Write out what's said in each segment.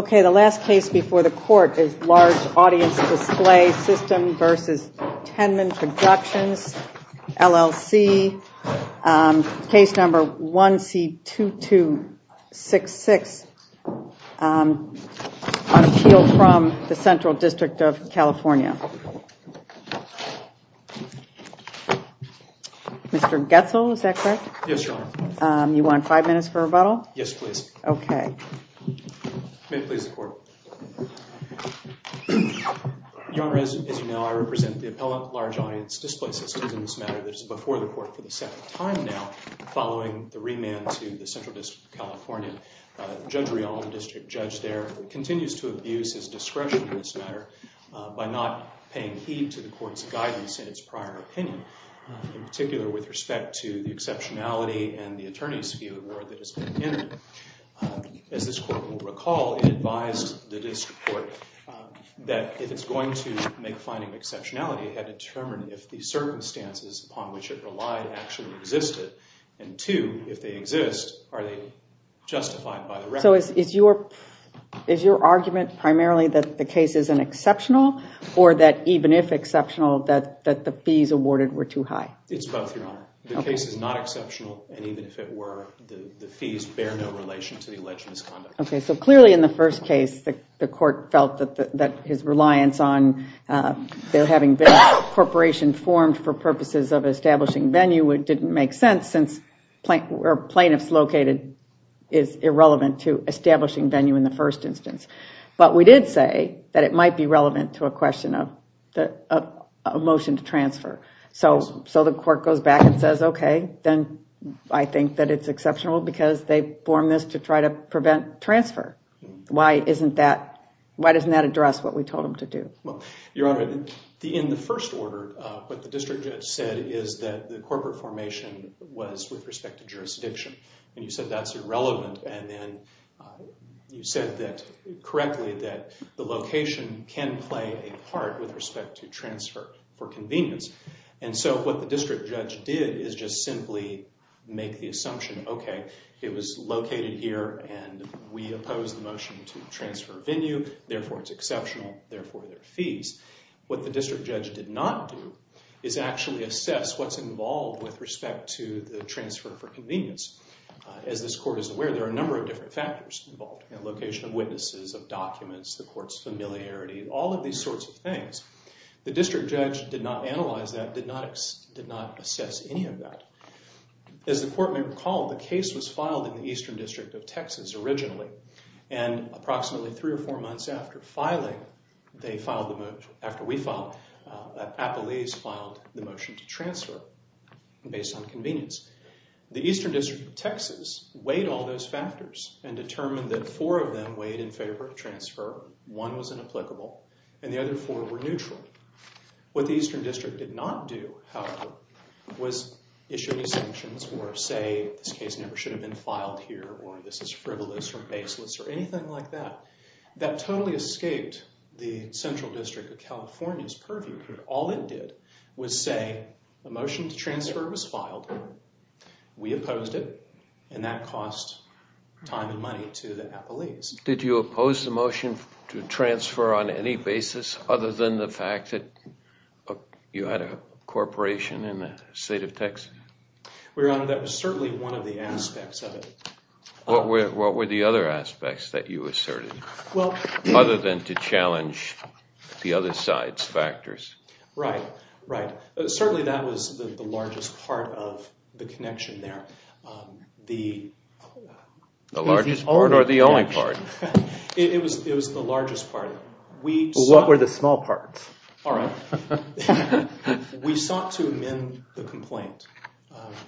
The last case before the court is Large Audience Display System v. Tennman Productions, LLC, case number 1C2266 on appeal from the Central District of California. I represent the appellant Large Audience Display System in this matter that is before the court for the second time now following the remand to the Central District of California. Judge Rial, the district judge there, continues to abuse his discretion in this matter by not paying heed to the court's guidance in its prior opinion, in particular with respect to the exceptionality and the attorney's view of the word that has been entered. As this court will recall, it advised the district court that if it's going to make a finding of exceptionality, it had to determine if the circumstances upon which it relied actually existed. And two, if they exist, are they justified by the record? So is your argument primarily that the case is an exceptional or that even if exceptional, that the fees awarded were too high? It's both, Your Honor. The case is not exceptional, and even if it were, the fees bear no relation to the alleged misconduct. Okay, so clearly in the first case, the court felt that his reliance on there having been a corporation formed for purposes of establishing venue, it didn't make sense since plaintiffs located is irrelevant to establishing venue in the first instance. But we did say that it might be relevant to a question of a motion to transfer. So the court goes back and says, okay, then I think that it's exceptional because they formed this to try to prevent transfer. Why doesn't that address what we told them to do? Well, Your Honor, in the first order, what the district judge said is that the corporate formation was with respect to jurisdiction. And you said that's irrelevant, and then you said that correctly that the location can play a part with respect to transfer for convenience. And so what the district judge did is just simply make the assumption, okay, it was located here and we opposed the motion to transfer venue, therefore it's exceptional, therefore there are fees. What the district judge did not do is actually assess what's involved with respect to the transfer for convenience. As this court is aware, there are a number of different factors involved in location of witnesses, of documents, the court's familiarity, all of these sorts of things. The district judge did not analyze that, did not assess any of that. As the court may recall, the case was filed in the Eastern District of Texas originally, and approximately three or four months after filing, they filed the motion, after we filed, Appalese filed the motion to transfer based on convenience. The Eastern District of Texas weighed all those factors and determined that four of them weighed in favor of transfer, one was inapplicable, and the other four were neutral. What the Eastern District did not do, however, was issue any sanctions or say, this case never should have been filed here or this is frivolous or baseless or anything like that. That totally escaped the Central District of California's purview. All it did was say, the motion to transfer was filed, we opposed it, and that cost time and money to the Appalese. Did you oppose the motion to transfer on any basis other than the fact that you had a corporation in the state of Texas? Your Honor, that was certainly one of the aspects of it. What were the other aspects that you asserted, other than to challenge the other side's factors? Right, right. Certainly that was the largest part of the connection there. The largest part or the only part? It was the largest part. What were the small parts? All right. We sought to amend the complaint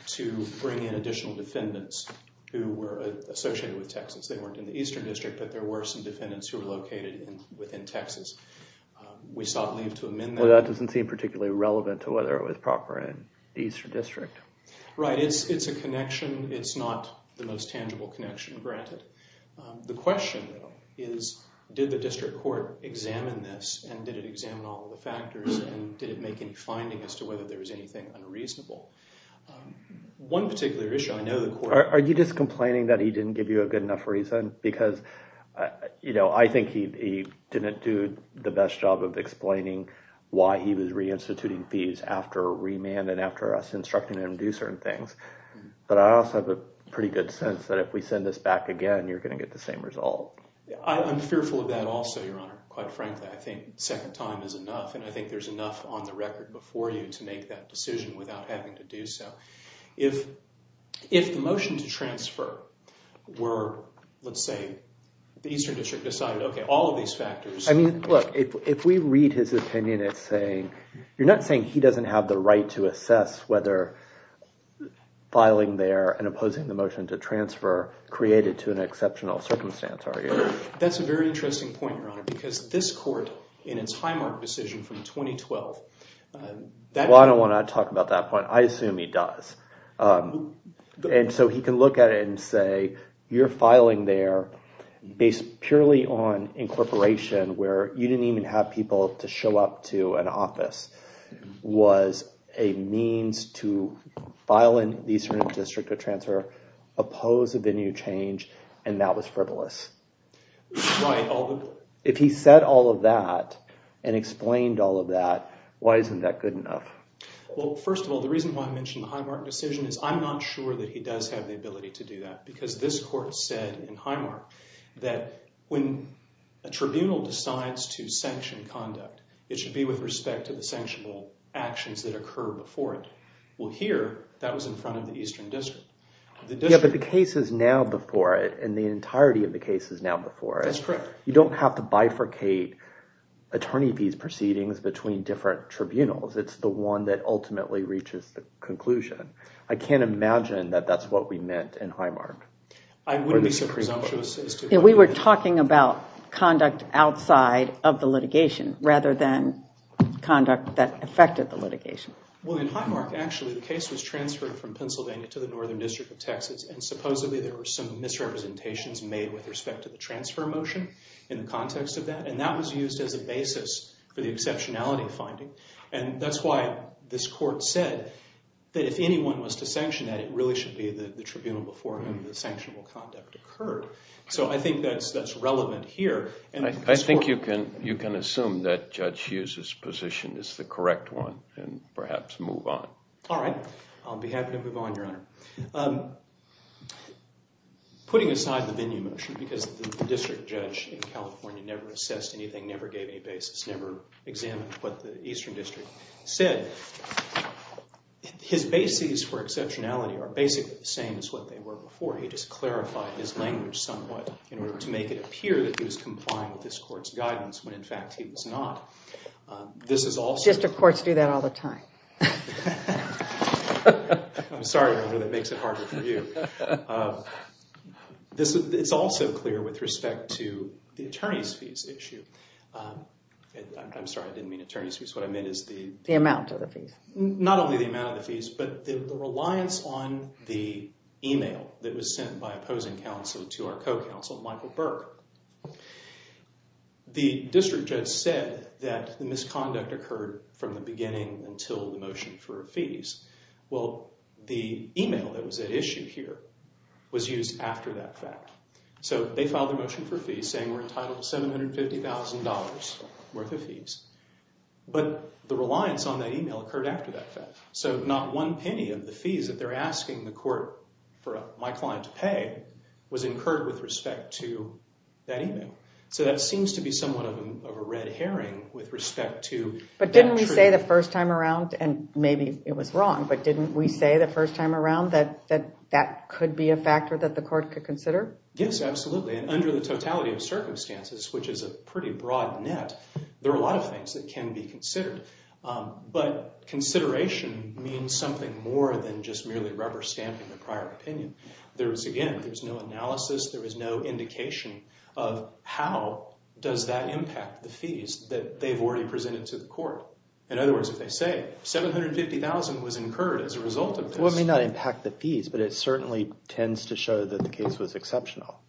to bring in additional defendants who were associated with Texas. They weren't in the Eastern District, but there were some defendants who were located within Texas. We sought leave to amend that. Well, that doesn't seem particularly relevant to whether it was proper in the Eastern District. Right. It's a connection. It's not the most tangible connection, granted. The question, though, is did the district court examine this, and did it examine all of the factors, and did it make any findings as to whether there was anything unreasonable? One particular issue, I know the court— Are you just complaining that he didn't give you a good enough reason? Because, you know, I think he didn't do the best job of explaining why he was reinstituting fees after remand and after us instructing him to do certain things. But I also have a pretty good sense that if we send this back again, you're going to get the same result. I'm fearful of that also, Your Honor, quite frankly. I think second time is enough, and I think there's enough on the record before you to make that decision without having to do so. If the motion to transfer were, let's say, the Eastern District decided, okay, all of these factors— I mean, look, if we read his opinion, it's saying— you're not saying he doesn't have the right to assess whether filing there and opposing the motion to transfer created to an exceptional circumstance, are you? That's a very interesting point, Your Honor, because this court in its highmark decision from 2012— Well, I don't want to talk about that point. I assume he does. And so he can look at it and say, you're filing there based purely on incorporation, where you didn't even have people to show up to an office, was a means to file in the Eastern District to transfer, oppose a venue change, and that was frivolous. If he said all of that and explained all of that, why isn't that good enough? Well, first of all, the reason why I mentioned the highmark decision is I'm not sure that he does have the ability to do that because this court said in highmark that when a tribunal decides to sanction conduct, it should be with respect to the sanctionable actions that occurred before it. Well, here, that was in front of the Eastern District. Yeah, but the case is now before it, and the entirety of the case is now before it. That's correct. You don't have to bifurcate attorney fees proceedings between different tribunals. It's the one that ultimately reaches the conclusion. I can't imagine that that's what we meant in highmark. I wouldn't be so presumptuous as to— Yeah, we were talking about conduct outside of the litigation rather than conduct that affected the litigation. Well, in highmark, actually, the case was transferred from Pennsylvania to the Northern District of Texas, and supposedly there were some misrepresentations made with respect to the transfer motion in the context of that, and that was used as a basis for the exceptionality finding, and that's why this court said that if anyone was to sanction that, it really should be the tribunal before whom the sanctionable conduct occurred. So I think that's relevant here. I think you can assume that Judge Hughes's position is the correct one and perhaps move on. All right. I'll be happy to move on, Your Honor. Putting aside the venue motion because the district judge in California never assessed anything, never gave any basis, never examined what the Eastern District said, his bases for exceptionality are basically the same as what they were before. He just clarified his language somewhat in order to make it appear that he was complying with this court's guidance when, in fact, he was not. District courts do that all the time. I'm sorry, Your Honor. That makes it harder for you. It's also clear with respect to the attorney's fees issue. I'm sorry. I didn't mean attorney's fees. What I meant is the— The amount of the fees. Not only the amount of the fees but the reliance on the email that was sent by opposing counsel to our co-counsel, Michael Burke. The district judge said that the misconduct occurred from the beginning until the motion for fees. Well, the email that was at issue here was used after that fact. So they filed a motion for fees saying we're entitled to $750,000 worth of fees. But the reliance on that email occurred after that fact. So not one penny of the fees that they're asking the court for my client to pay was incurred with respect to that email. So that seems to be somewhat of a red herring with respect to— But didn't we say the first time around, and maybe it was wrong, but didn't we say the first time around that that could be a factor that the court could consider? Yes, absolutely. And under the totality of circumstances, which is a pretty broad net, there are a lot of things that can be considered. But consideration means something more than just merely rubber stamping the prior opinion. There is, again, there's no analysis, there is no indication of how does that impact the fees that they've already presented to the court. In other words, if they say $750,000 was incurred as a result of this— Well, it may not impact the fees, but it certainly tends to show that the case was exceptional.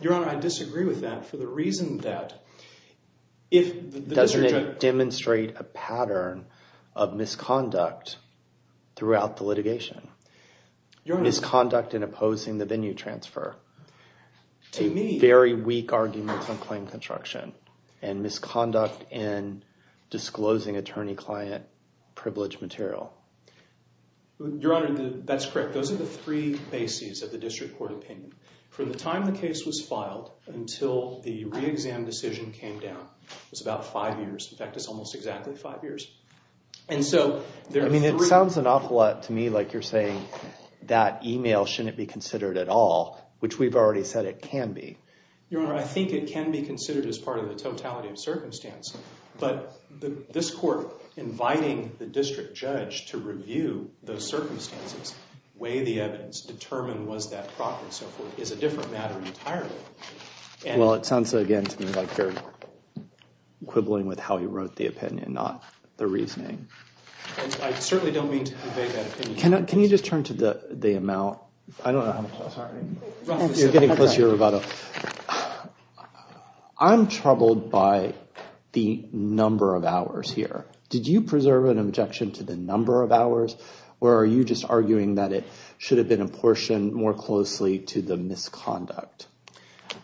Your Honor, I disagree with that for the reason that if the district judge— Doesn't it demonstrate a pattern of misconduct throughout the litigation? Your Honor— Misconduct in opposing the venue transfer. To me— Very weak arguments on claim construction and misconduct in disclosing attorney-client privilege material. Your Honor, that's correct. Those are the three bases of the district court opinion. From the time the case was filed until the re-exam decision came down was about five years. In fact, it's almost exactly five years. And so— I mean, it sounds an awful lot to me like you're saying that email shouldn't be considered at all, which we've already said it can be. Your Honor, I think it can be considered as part of the totality of circumstance. But this court inviting the district judge to review those circumstances, weigh the evidence, determine was that proper and so forth, is a different matter entirely. Well, it sounds, again, to me like very quibbling with how he wrote the opinion, not the reasoning. I certainly don't mean to convey that opinion. Can you just turn to the amount— You're getting closer, Roboto. I'm troubled by the number of hours here. Did you preserve an objection to the number of hours, or are you just arguing that it should have been apportioned more closely to the misconduct?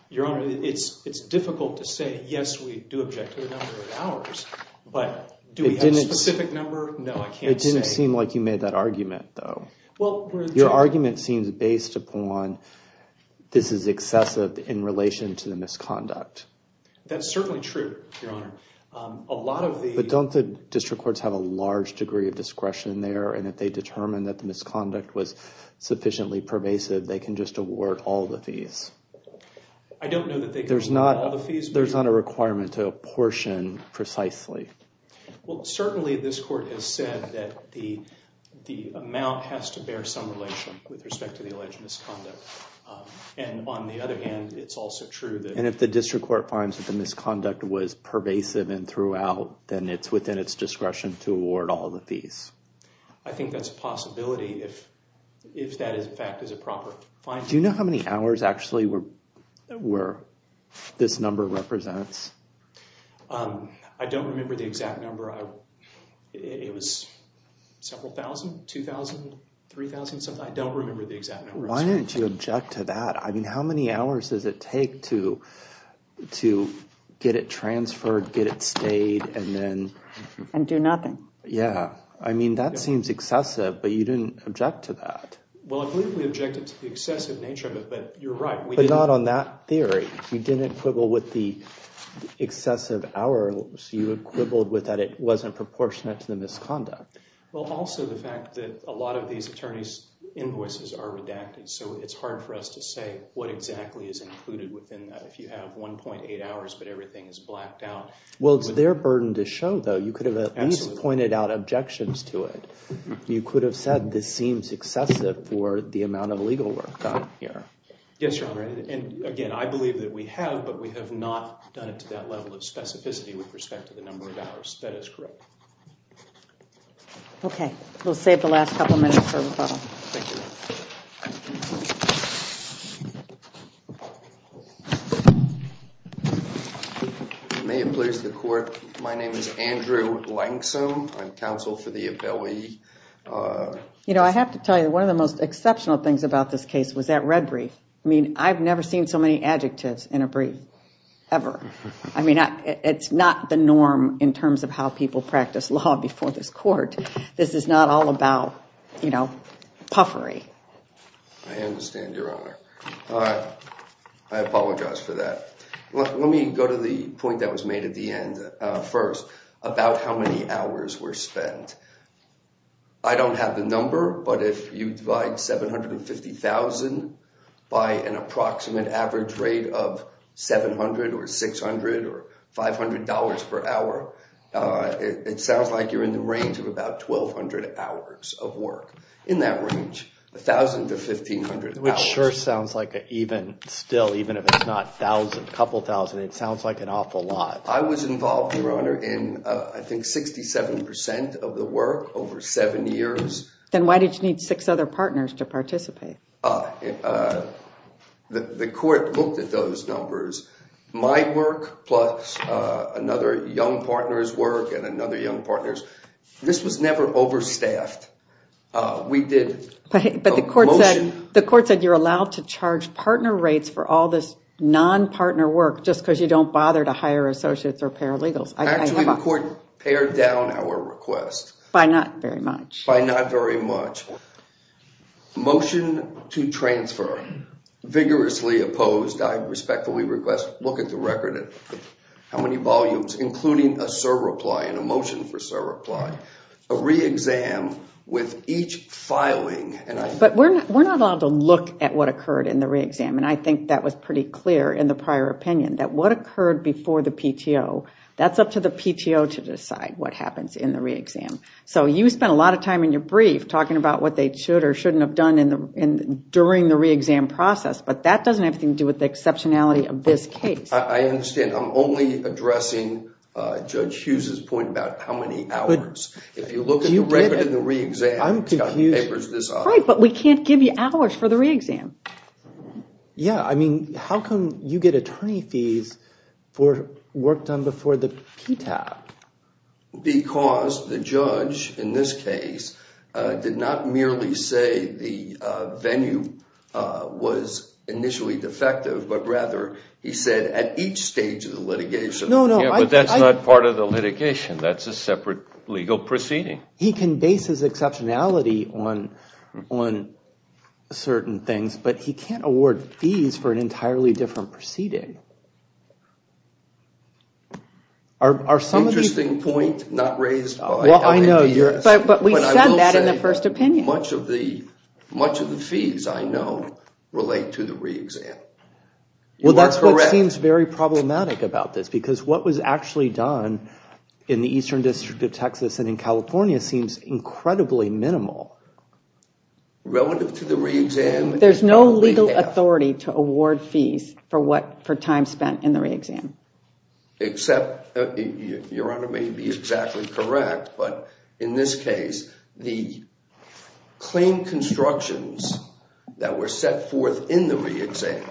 Your Honor, it's difficult to say, yes, we do object to the number of hours. But do we have a specific number? No, I can't say. It didn't seem like you made that argument, though. Your argument seems based upon this is excessive in relation to the misconduct. That's certainly true, Your Honor. But don't the district courts have a large degree of discretion there, and if they determine that the misconduct was sufficiently pervasive, they can just award all the fees? I don't know that they can award all the fees. There's not a requirement to apportion precisely. Well, certainly this court has said that the amount has to bear some relation with respect to the alleged misconduct. And on the other hand, it's also true that— And if the district court finds that the misconduct was pervasive and throughout, then it's within its discretion to award all the fees. I think that's a possibility, if that, in fact, is a proper finding. Do you know how many hours, actually, this number represents? I don't remember the exact number. It was several thousand, 2,000, 3,000 something. I don't remember the exact number. Why didn't you object to that? I mean, how many hours does it take to get it transferred, get it stayed, and then— And do nothing. Yeah, I mean, that seems excessive, but you didn't object to that. Well, I believe we objected to the excessive nature of it, but you're right. But not on that theory. You didn't quibble with the excessive hours. You quibbled with that it wasn't proportionate to the misconduct. Well, also the fact that a lot of these attorneys' invoices are redacted, so it's hard for us to say what exactly is included within that. If you have 1.8 hours, but everything is blacked out— Well, it's their burden to show, though. You could have at least pointed out objections to it. You could have said this seems excessive for the amount of legal work done here. Yes, Your Honor. And, again, I believe that we have, but we have not done it to that level of specificity with respect to the number of hours. That is correct. Okay. We'll save the last couple minutes for rebuttal. Thank you, Your Honor. May it please the Court, my name is Andrew Langsum. I'm counsel for the Abelli— You know, I have to tell you, one of the most exceptional things about this case was that red brief. I mean, I've never seen so many adjectives in a brief, ever. I mean, it's not the norm in terms of how people practice law before this Court. This is not all about, you know, puffery. I understand, Your Honor. I apologize for that. Let me go to the point that was made at the end first about how many hours were spent. I don't have the number, but if you divide $750,000 by an approximate average rate of $700 or $600 or $500 per hour, it sounds like you're in the range of about 1,200 hours of work. In that range, 1,000 to 1,500 hours. Which sure sounds like an even—still, even if it's not 1,000, a couple thousand, it sounds like an awful lot. I was involved, Your Honor, in I think 67% of the work over seven years. Then why did you need six other partners to participate? The Court looked at those numbers. My work plus another young partner's work and another young partner's. This was never overstaffed. We did a motion— Actually, the Court pared down our request. By not very much. By not very much. Motion to transfer. Vigorously opposed. I respectfully request, look at the record, how many volumes, including a serve reply and a motion for serve reply. A re-exam with each filing. We're not allowed to look at what occurred in the re-exam. I think that was pretty clear in the prior opinion, that what occurred before the PTO, that's up to the PTO to decide what happens in the re-exam. You spent a lot of time in your brief talking about what they should or shouldn't have done during the re-exam process, but that doesn't have anything to do with the exceptionality of this case. I understand. I'm only addressing Judge Hughes's point about how many hours. If you look at the record in the re-exam— I'm confused. Right, but we can't give you hours for the re-exam. Yeah, I mean, how come you get attorney fees for work done before the PTO? Because the judge, in this case, did not merely say the venue was initially defective, but rather he said at each stage of the litigation— He can base his exceptionality on certain things, but he can't award fees for an entirely different proceeding. Interesting point, not raised by— Well, I know. But we said that in the first opinion. Much of the fees, I know, relate to the re-exam. Well, that's what seems very problematic about this, because what was actually done in the Eastern District of Texas and in California seems incredibly minimal. Relative to the re-exam— There's no legal authority to award fees for time spent in the re-exam. Your Honor may be exactly correct, but in this case, the claim constructions that were set forth in the re-exam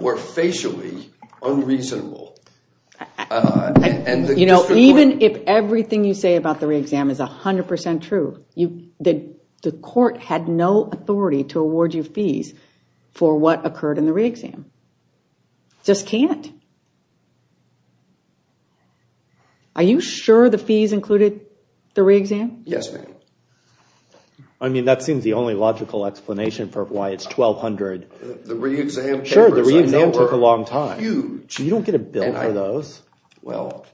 were facially unreasonable. You know, even if everything you say about the re-exam is 100% true, the court had no authority to award you fees for what occurred in the re-exam. Just can't. Are you sure the fees included the re-exam? Yes, ma'am. I mean, that seems the only logical explanation for why it's $1,200. The re-exam— Sure, the re-exam took a long time. Huge. You don't get a bill for those. Well,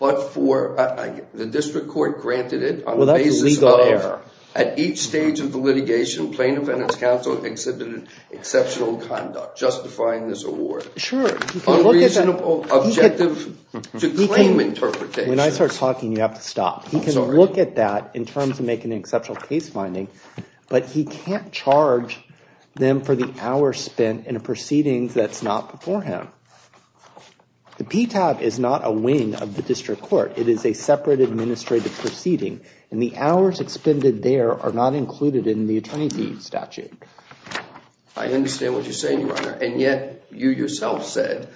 but for—the district court granted it on the basis of— Well, that's a legal error. At each stage of the litigation, plaintiff and its counsel exhibited exceptional conduct justifying this award. Sure. Unreasonable objective to claim interpretation. When I start talking, you have to stop. I'm sorry. He can look at that in terms of making an exceptional case finding, but he can't charge them for the hours spent in a proceedings that's not before him. The PTAB is not a wing of the district court. It is a separate administrative proceeding, and the hours expended there are not included in the attorney deed statute. I understand what you're saying, Your Honor, and yet you yourself said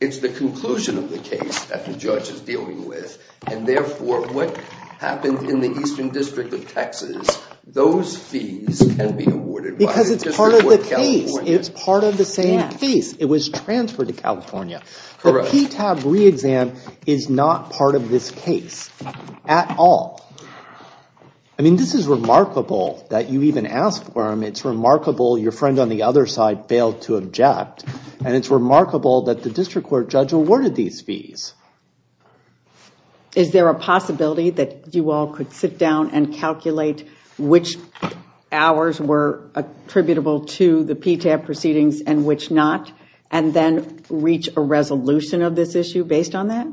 it's the conclusion of the case that the judge is dealing with, and therefore what happened in the Eastern District of Texas, those fees can be awarded by the district court of California. Because it's part of the case. It's part of the same case. It was transferred to California. Correct. The PTAB re-exam is not part of this case at all. I mean, this is remarkable that you even asked for them. It's remarkable your friend on the other side failed to object, and it's remarkable that the district court judge awarded these fees. Is there a possibility that you all could sit down and calculate which hours were attributable to the PTAB proceedings and which not, and then reach a resolution of this issue based on that?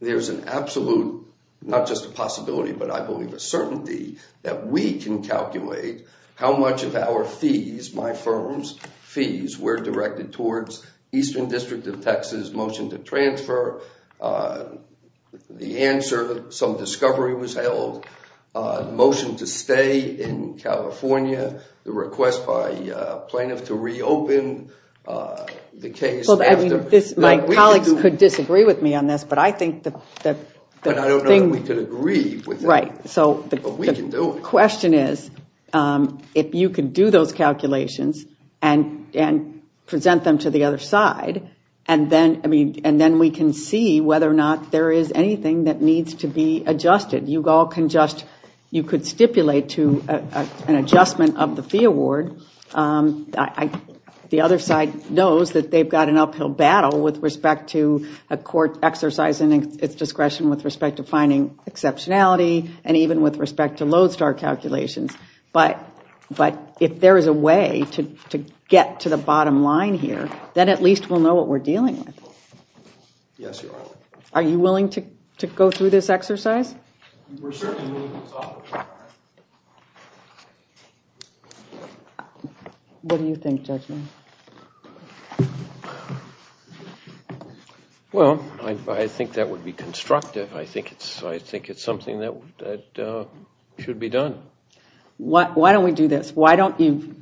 There's an absolute, not just a possibility, but I believe a certainty that we can calculate how much of our fees, my firm's fees, were directed towards Eastern District of Texas motion to transfer. The answer, some discovery was held, motion to stay in California, the request by plaintiff to reopen the case. My colleagues could disagree with me on this, but I think that the thing. But I don't know that we could agree with that. Right. But we can do it. The question is if you could do those calculations and present them to the other side, and then we can see whether or not there is anything that needs to be adjusted. You could stipulate to an adjustment of the fee award. The other side knows that they've got an uphill battle with respect to a court exercising its discretion with respect to finding exceptionality and even with respect to Lodestar calculations. But if there is a way to get to the bottom line here, then at least we'll know what we're dealing with. Yes, Your Honor. Are you willing to go through this exercise? We're certainly willing to talk about it. What do you think, Judge Mead? Well, I think that would be constructive. I think it's something that should be done. Why don't we do this? Why don't you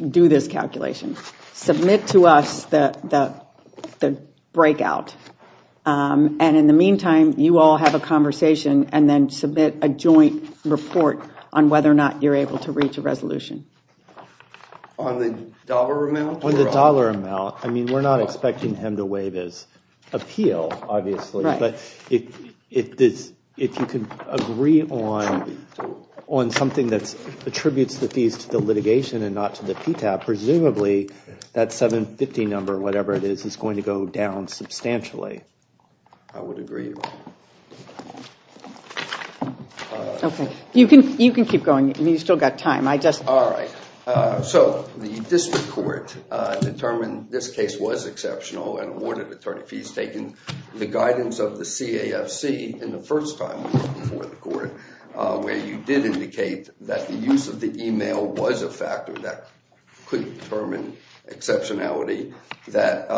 do this calculation? Submit to us the breakout. And in the meantime, you all have a conversation, and then submit a joint report on whether or not you're able to reach a resolution. On the dollar amount? On the dollar amount. I mean, we're not expecting him to waive his appeal, obviously. But if you can agree on something that attributes the fees to the litigation and not to the PTAP, presumably that 750 number, whatever it is, is going to go down substantially. I would agree. You can keep going. You've still got time. All right. So the district court determined this case was exceptional and awarded attorney fees taking the guidance of the CAFC in the first time before the court, where you did indicate that the use of the email was a factor that could determine exceptionality, that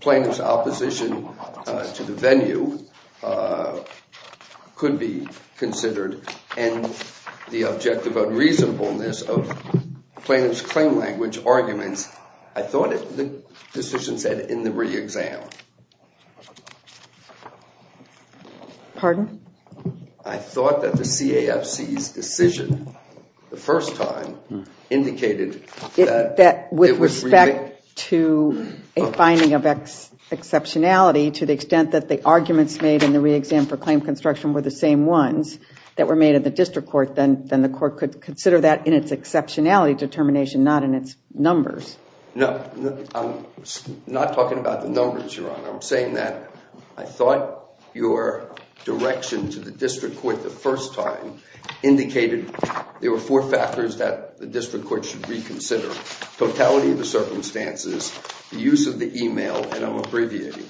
plaintiff's opposition to the venue could be considered, and the objective unreasonableness of plaintiff's claim language arguments, I thought the decision said in the re-exam. Pardon? I thought that the CAFC's decision the first time indicated that it was re-made. With respect to a finding of exceptionality to the extent that the arguments made in the re-exam for claim construction were the same ones that were made in the district court, then the court could consider that in its exceptionality determination, not in its numbers. No, I'm not talking about the numbers, Your Honor. I'm saying that I thought your direction to the district court the first time indicated there were four factors that the district court should reconsider, totality of the circumstances, the use of the email, and I'm abbreviating,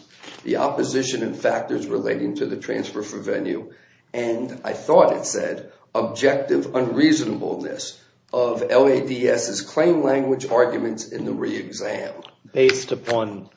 the opposition and factors relating to the transfer for venue, and I thought it said objective unreasonableness of LADS's claim language arguments in the re-exam. Based upon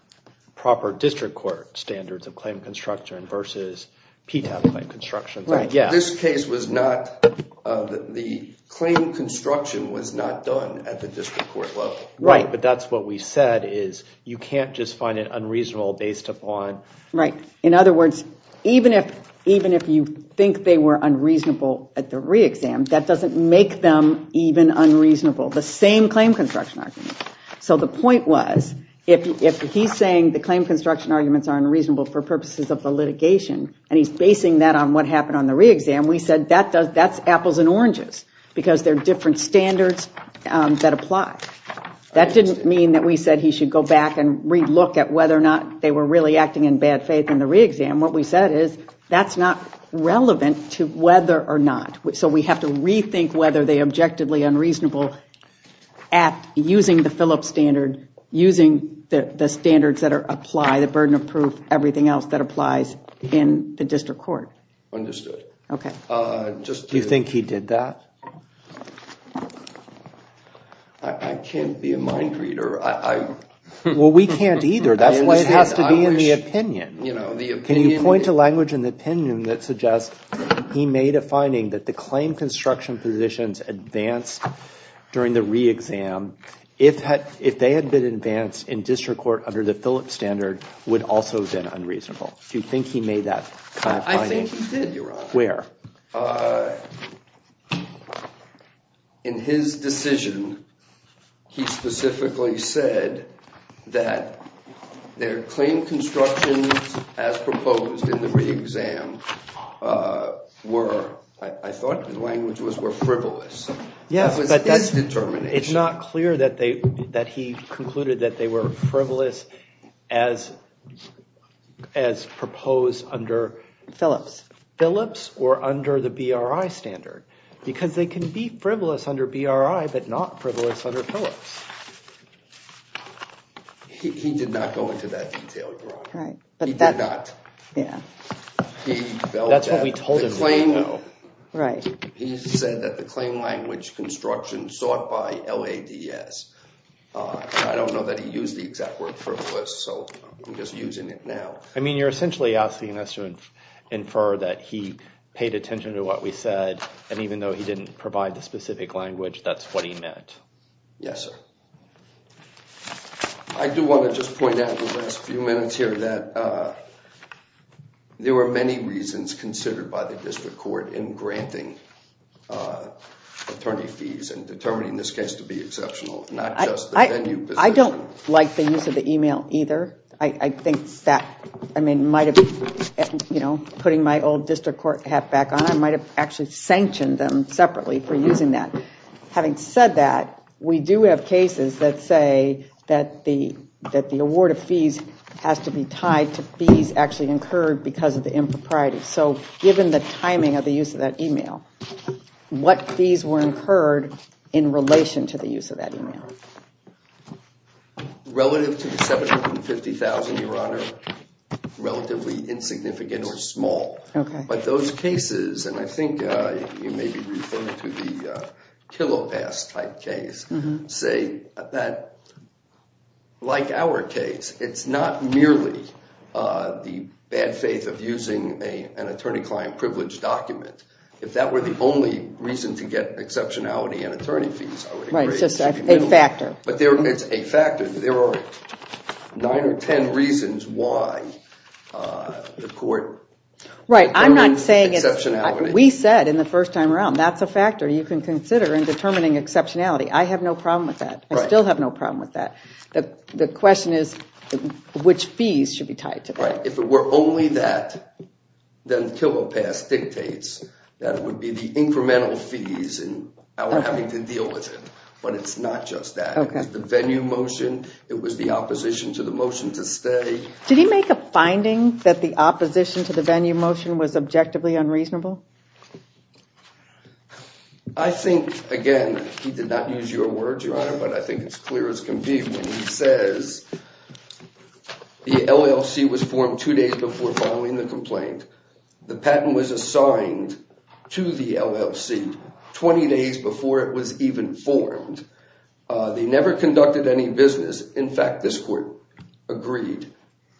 proper district court standards of claim construction versus PTAB-type construction. This case was not, the claim construction was not done at the district court level. Right, but that's what we said is you can't just find it unreasonable based upon... Right, in other words, even if you think they were unreasonable at the re-exam, that doesn't make them even unreasonable. The same claim construction argument. So the point was, if he's saying the claim construction arguments are unreasonable for purposes of the litigation, and he's basing that on what happened on the re-exam, we said that's apples and oranges because they're different standards that apply. That didn't mean that we said he should go back and re-look at whether or not they were really acting in bad faith in the re-exam. What we said is that's not relevant to whether or not, so we have to rethink whether they objectively unreasonable at using the Phillips standard, using the standards that apply, the burden of proof, everything else that applies in the district court. Understood. Do you think he did that? I can't be a mind reader. Well, we can't either. That's why it has to be in the opinion. Can you point to language in the opinion that suggests he made a finding that the claim construction positions advanced during the re-exam, if they had been advanced in district court under the Phillips standard, would also have been unreasonable. Do you think he made that kind of finding? I think he did, Your Honor. Where? In his decision, he specifically said that their claim constructions as proposed in the re-exam were, I thought the language was, were frivolous. It was his determination. It's not clear that he concluded that they were frivolous as proposed under Phillips or under the BRI standard because they can be frivolous under BRI but not frivolous under Phillips. He did not go into that detail, Your Honor. He did not. That's what we told him. He said that the claim language construction sought by LADS. I don't know that he used the exact word frivolous, so I'm just using it now. I mean, you're essentially asking us to infer that he paid attention to what we said and even though he didn't provide the specific language, that's what he meant. Yes, sir. I do want to just point out in the last few minutes here that there were many reasons considered by the district court in granting attorney fees and determining this case to be exceptional, not just the venue position. I don't like the use of the email either. I think that, I mean, might have, you know, putting my old district court hat back on, I might have actually sanctioned them separately for using that. Having said that, we do have cases that say that the award of fees has to be tied to fees actually incurred because of the impropriety. So given the timing of the use of that email, what fees were incurred in relation to the use of that email? Relative to the $750,000, Your Honor, relatively insignificant or small. But those cases, and I think you may be referring to the Killopass type case, say that like our case, it's not merely the bad faith of using an attorney-client privilege document. If that were the only reason to get exceptionality in attorney fees, I would agree. Right, it's just a factor. But it's a factor. There are nine or ten reasons why the court determines exceptionality. Right, I'm not saying it's, we said in the first time around, that's a factor you can consider in determining exceptionality. I have no problem with that. I still have no problem with that. The question is which fees should be tied to that. Right, if it were only that, then Killopass dictates that it would be the incremental fees without having to deal with it, but it's not just that. It was the venue motion, it was the opposition to the motion to stay. Did he make a finding that the opposition to the venue motion was objectively unreasonable? I think, again, he did not use your words, Your Honor, but I think it's clear as can be when he says the LLC was formed two days before following the complaint. The patent was assigned to the LLC 20 days before it was even formed. They never conducted any business. In fact, this court agreed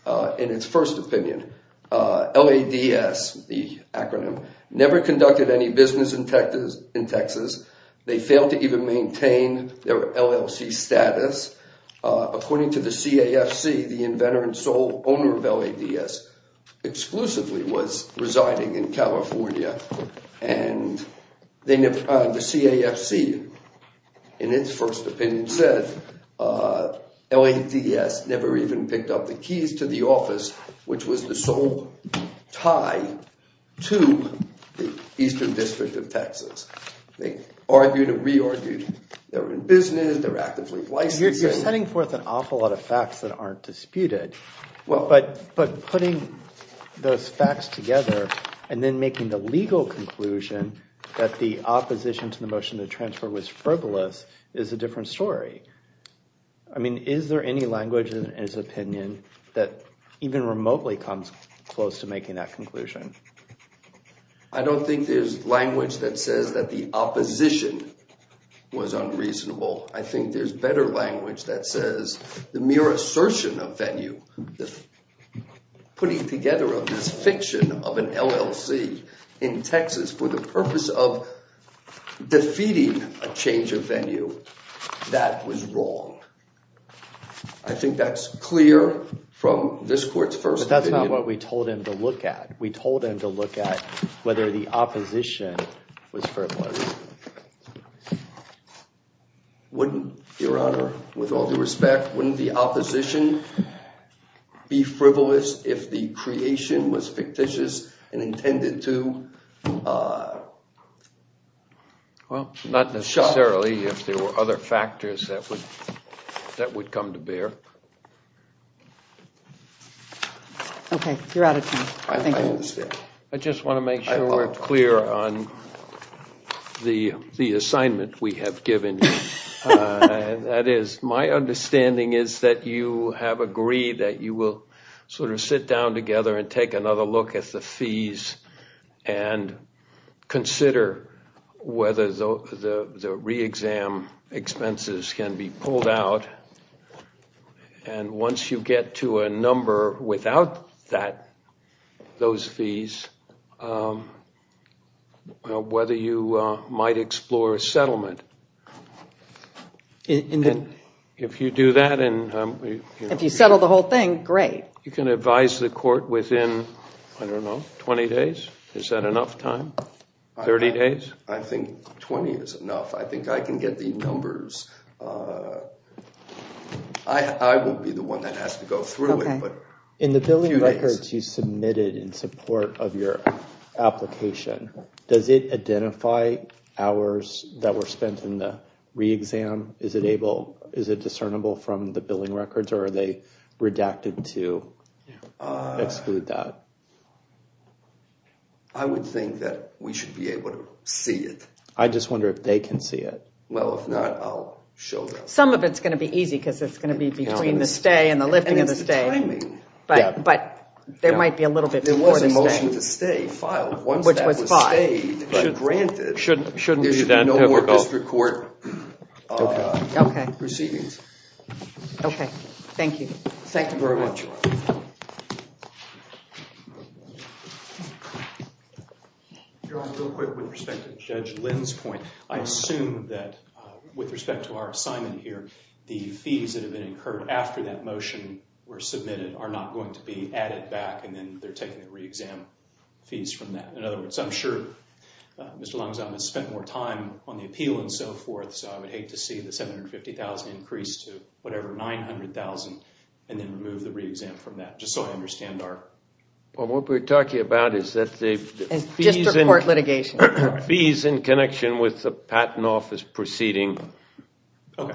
in its first opinion. LADS, the acronym, never conducted any business in Texas. They failed to even maintain their LLC status. According to the CAFC, the inventor and sole owner of LADS exclusively was residing in California. The CAFC, in its first opinion, said LADS never even picked up the keys to the office, which was the sole tie to the Eastern District of Texas. They argued and re-argued. They were in business, they were actively licensing. You're setting forth an awful lot of facts that aren't disputed, but putting those facts together and then making the legal conclusion that the opposition to the motion to transfer was frivolous is a different story. I mean, is there any language in his opinion that even remotely comes close to making that conclusion? I don't think there's language that says that the opposition was unreasonable. I think there's better language that says the mere assertion of venue, putting together of this fiction of an LLC in Texas for the purpose of defeating a change of venue, that was wrong. I think that's clear from this court's first opinion. That's not what we told him to look at. We told him to look at whether the opposition was frivolous. Wouldn't, Your Honor, with all due respect, wouldn't the opposition be frivolous if the creation was fictitious and intended to? Well, not necessarily if there were other factors that would come to bear. Okay, you're out of time. I just want to make sure we're clear on the assignment we have given you. That is, my understanding is that you have agreed that you will sort of sit down together and take another look at the fees and consider whether the re-exam expenses can be pulled out. And once you get to a number without those fees, whether you might explore a settlement. If you do that and... If you settle the whole thing, great. You can advise the court within, I don't know, 20 days? Is that enough time? 30 days? I think 20 is enough. I think I can get the numbers. I will be the one that has to go through it. In the billing records you submitted in support of your application, does it identify hours that were spent in the re-exam? Is it discernible from the billing records or are they redacted to exclude that? I would think that we should be able to see it. I just wonder if they can see it. Well, if not, I'll show them. Some of it's going to be easy because it's going to be between the stay and the lifting of the stay. And it's the timing. But there might be a little bit before the stay. There was a motion to stay filed once that was stayed. Granted, there should be no more district court proceedings. Okay. Thank you. Thank you very much. Real quick with respect to Judge Lynn's point, I assume that with respect to our assignment here, the fees that have been incurred after that motion were submitted are not going to be added back and then they're taking the re-exam fees from that. In other words, I'm sure Mr. Langsam has spent more time on the appeal and so forth, so I would hate to see the $750,000 increase to whatever $900,000 and then remove the re-exam from that. Just so I understand. What we're talking about is that the fees in connection with the Patent Office proceeding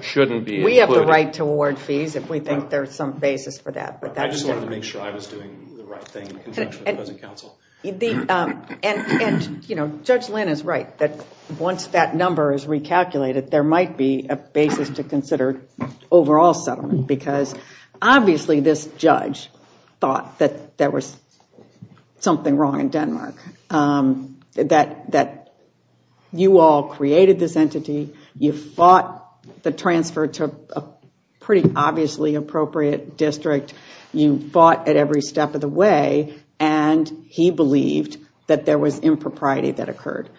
shouldn't be included. We have the right to award fees if we think there's some basis for that. I just wanted to make sure I was doing the right thing. Judge Lynn is right that once that number is recalculated, there might be a basis to consider overall settlement because obviously this judge thought that there was something wrong in Denmark, that you all created this entity, you fought the transfer to a pretty obviously appropriate district, you fought at every step of the way, and he believed that there was impropriety that occurred.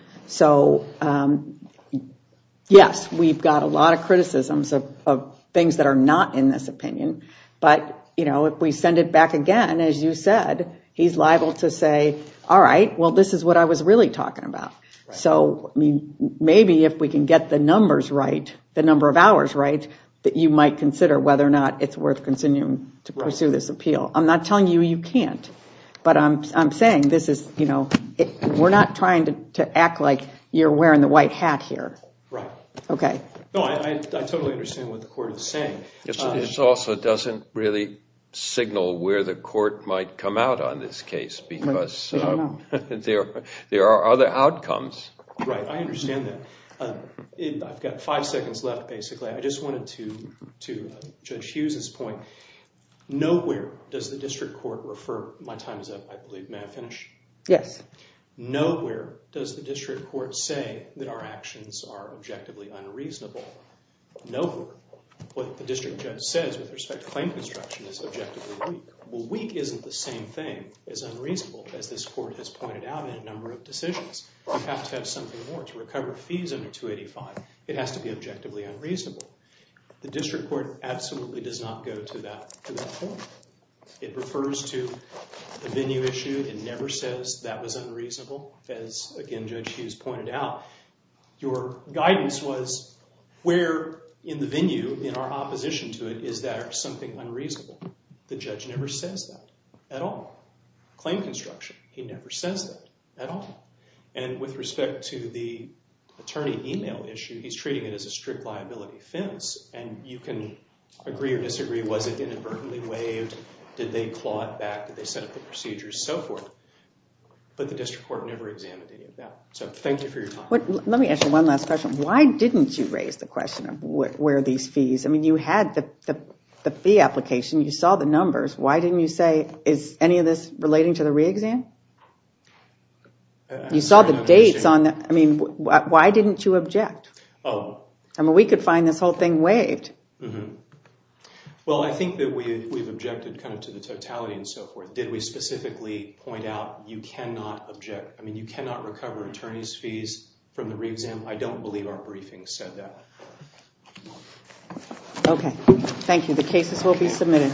Yes, we've got a lot of criticisms of things that are not in this opinion, but if we send it back again, as you said, he's liable to say, all right, this is what I was really talking about. Maybe if we can get the numbers right, the number of hours right, that you might consider whether or not it's worth continuing to pursue this appeal. I'm not telling you you can't, but I'm saying we're not trying to act like you're wearing the white hat here. I totally understand what the court is saying. This also doesn't really signal where the court might come out on this case because there are other outcomes. Right, I understand that. I've got five seconds left basically. I just wanted to, to Judge Hughes's point, nowhere does the district court refer, my time is up, I believe, may I finish? Yes. Nowhere does the district court say that our actions are objectively unreasonable. Nowhere. What the district judge says with respect to claim construction is objectively weak. Well, weak isn't the same thing as unreasonable, as this court has pointed out in a number of decisions. You have to have something more to recover fees under 285. It has to be objectively unreasonable. The district court absolutely does not go to that point. It refers to the venue issue. It never says that was unreasonable. As, again, Judge Hughes pointed out, your guidance was where in the venue, in our opposition to it, is there something unreasonable? The judge never says that at all. Claim construction, he never says that at all. And with respect to the attorney email issue, he's treating it as a strict liability offense. And you can agree or disagree, was it inadvertently waived? Did they claw it back? Did they set up the procedures? So forth. But the district court never examined any of that. So thank you for your time. Let me ask you one last question. Why didn't you raise the question of where are these fees? I mean, you had the fee application. You saw the numbers. Why didn't you say, is any of this relating to the re-exam? You saw the dates on that. I mean, why didn't you object? I mean, we could find this whole thing waived. Well, I think that we've objected kind of to the totality and so forth. Did we specifically point out you cannot object? I mean, you cannot recover attorney's fees from the re-exam. I don't believe our briefing said that. Okay. Thank you.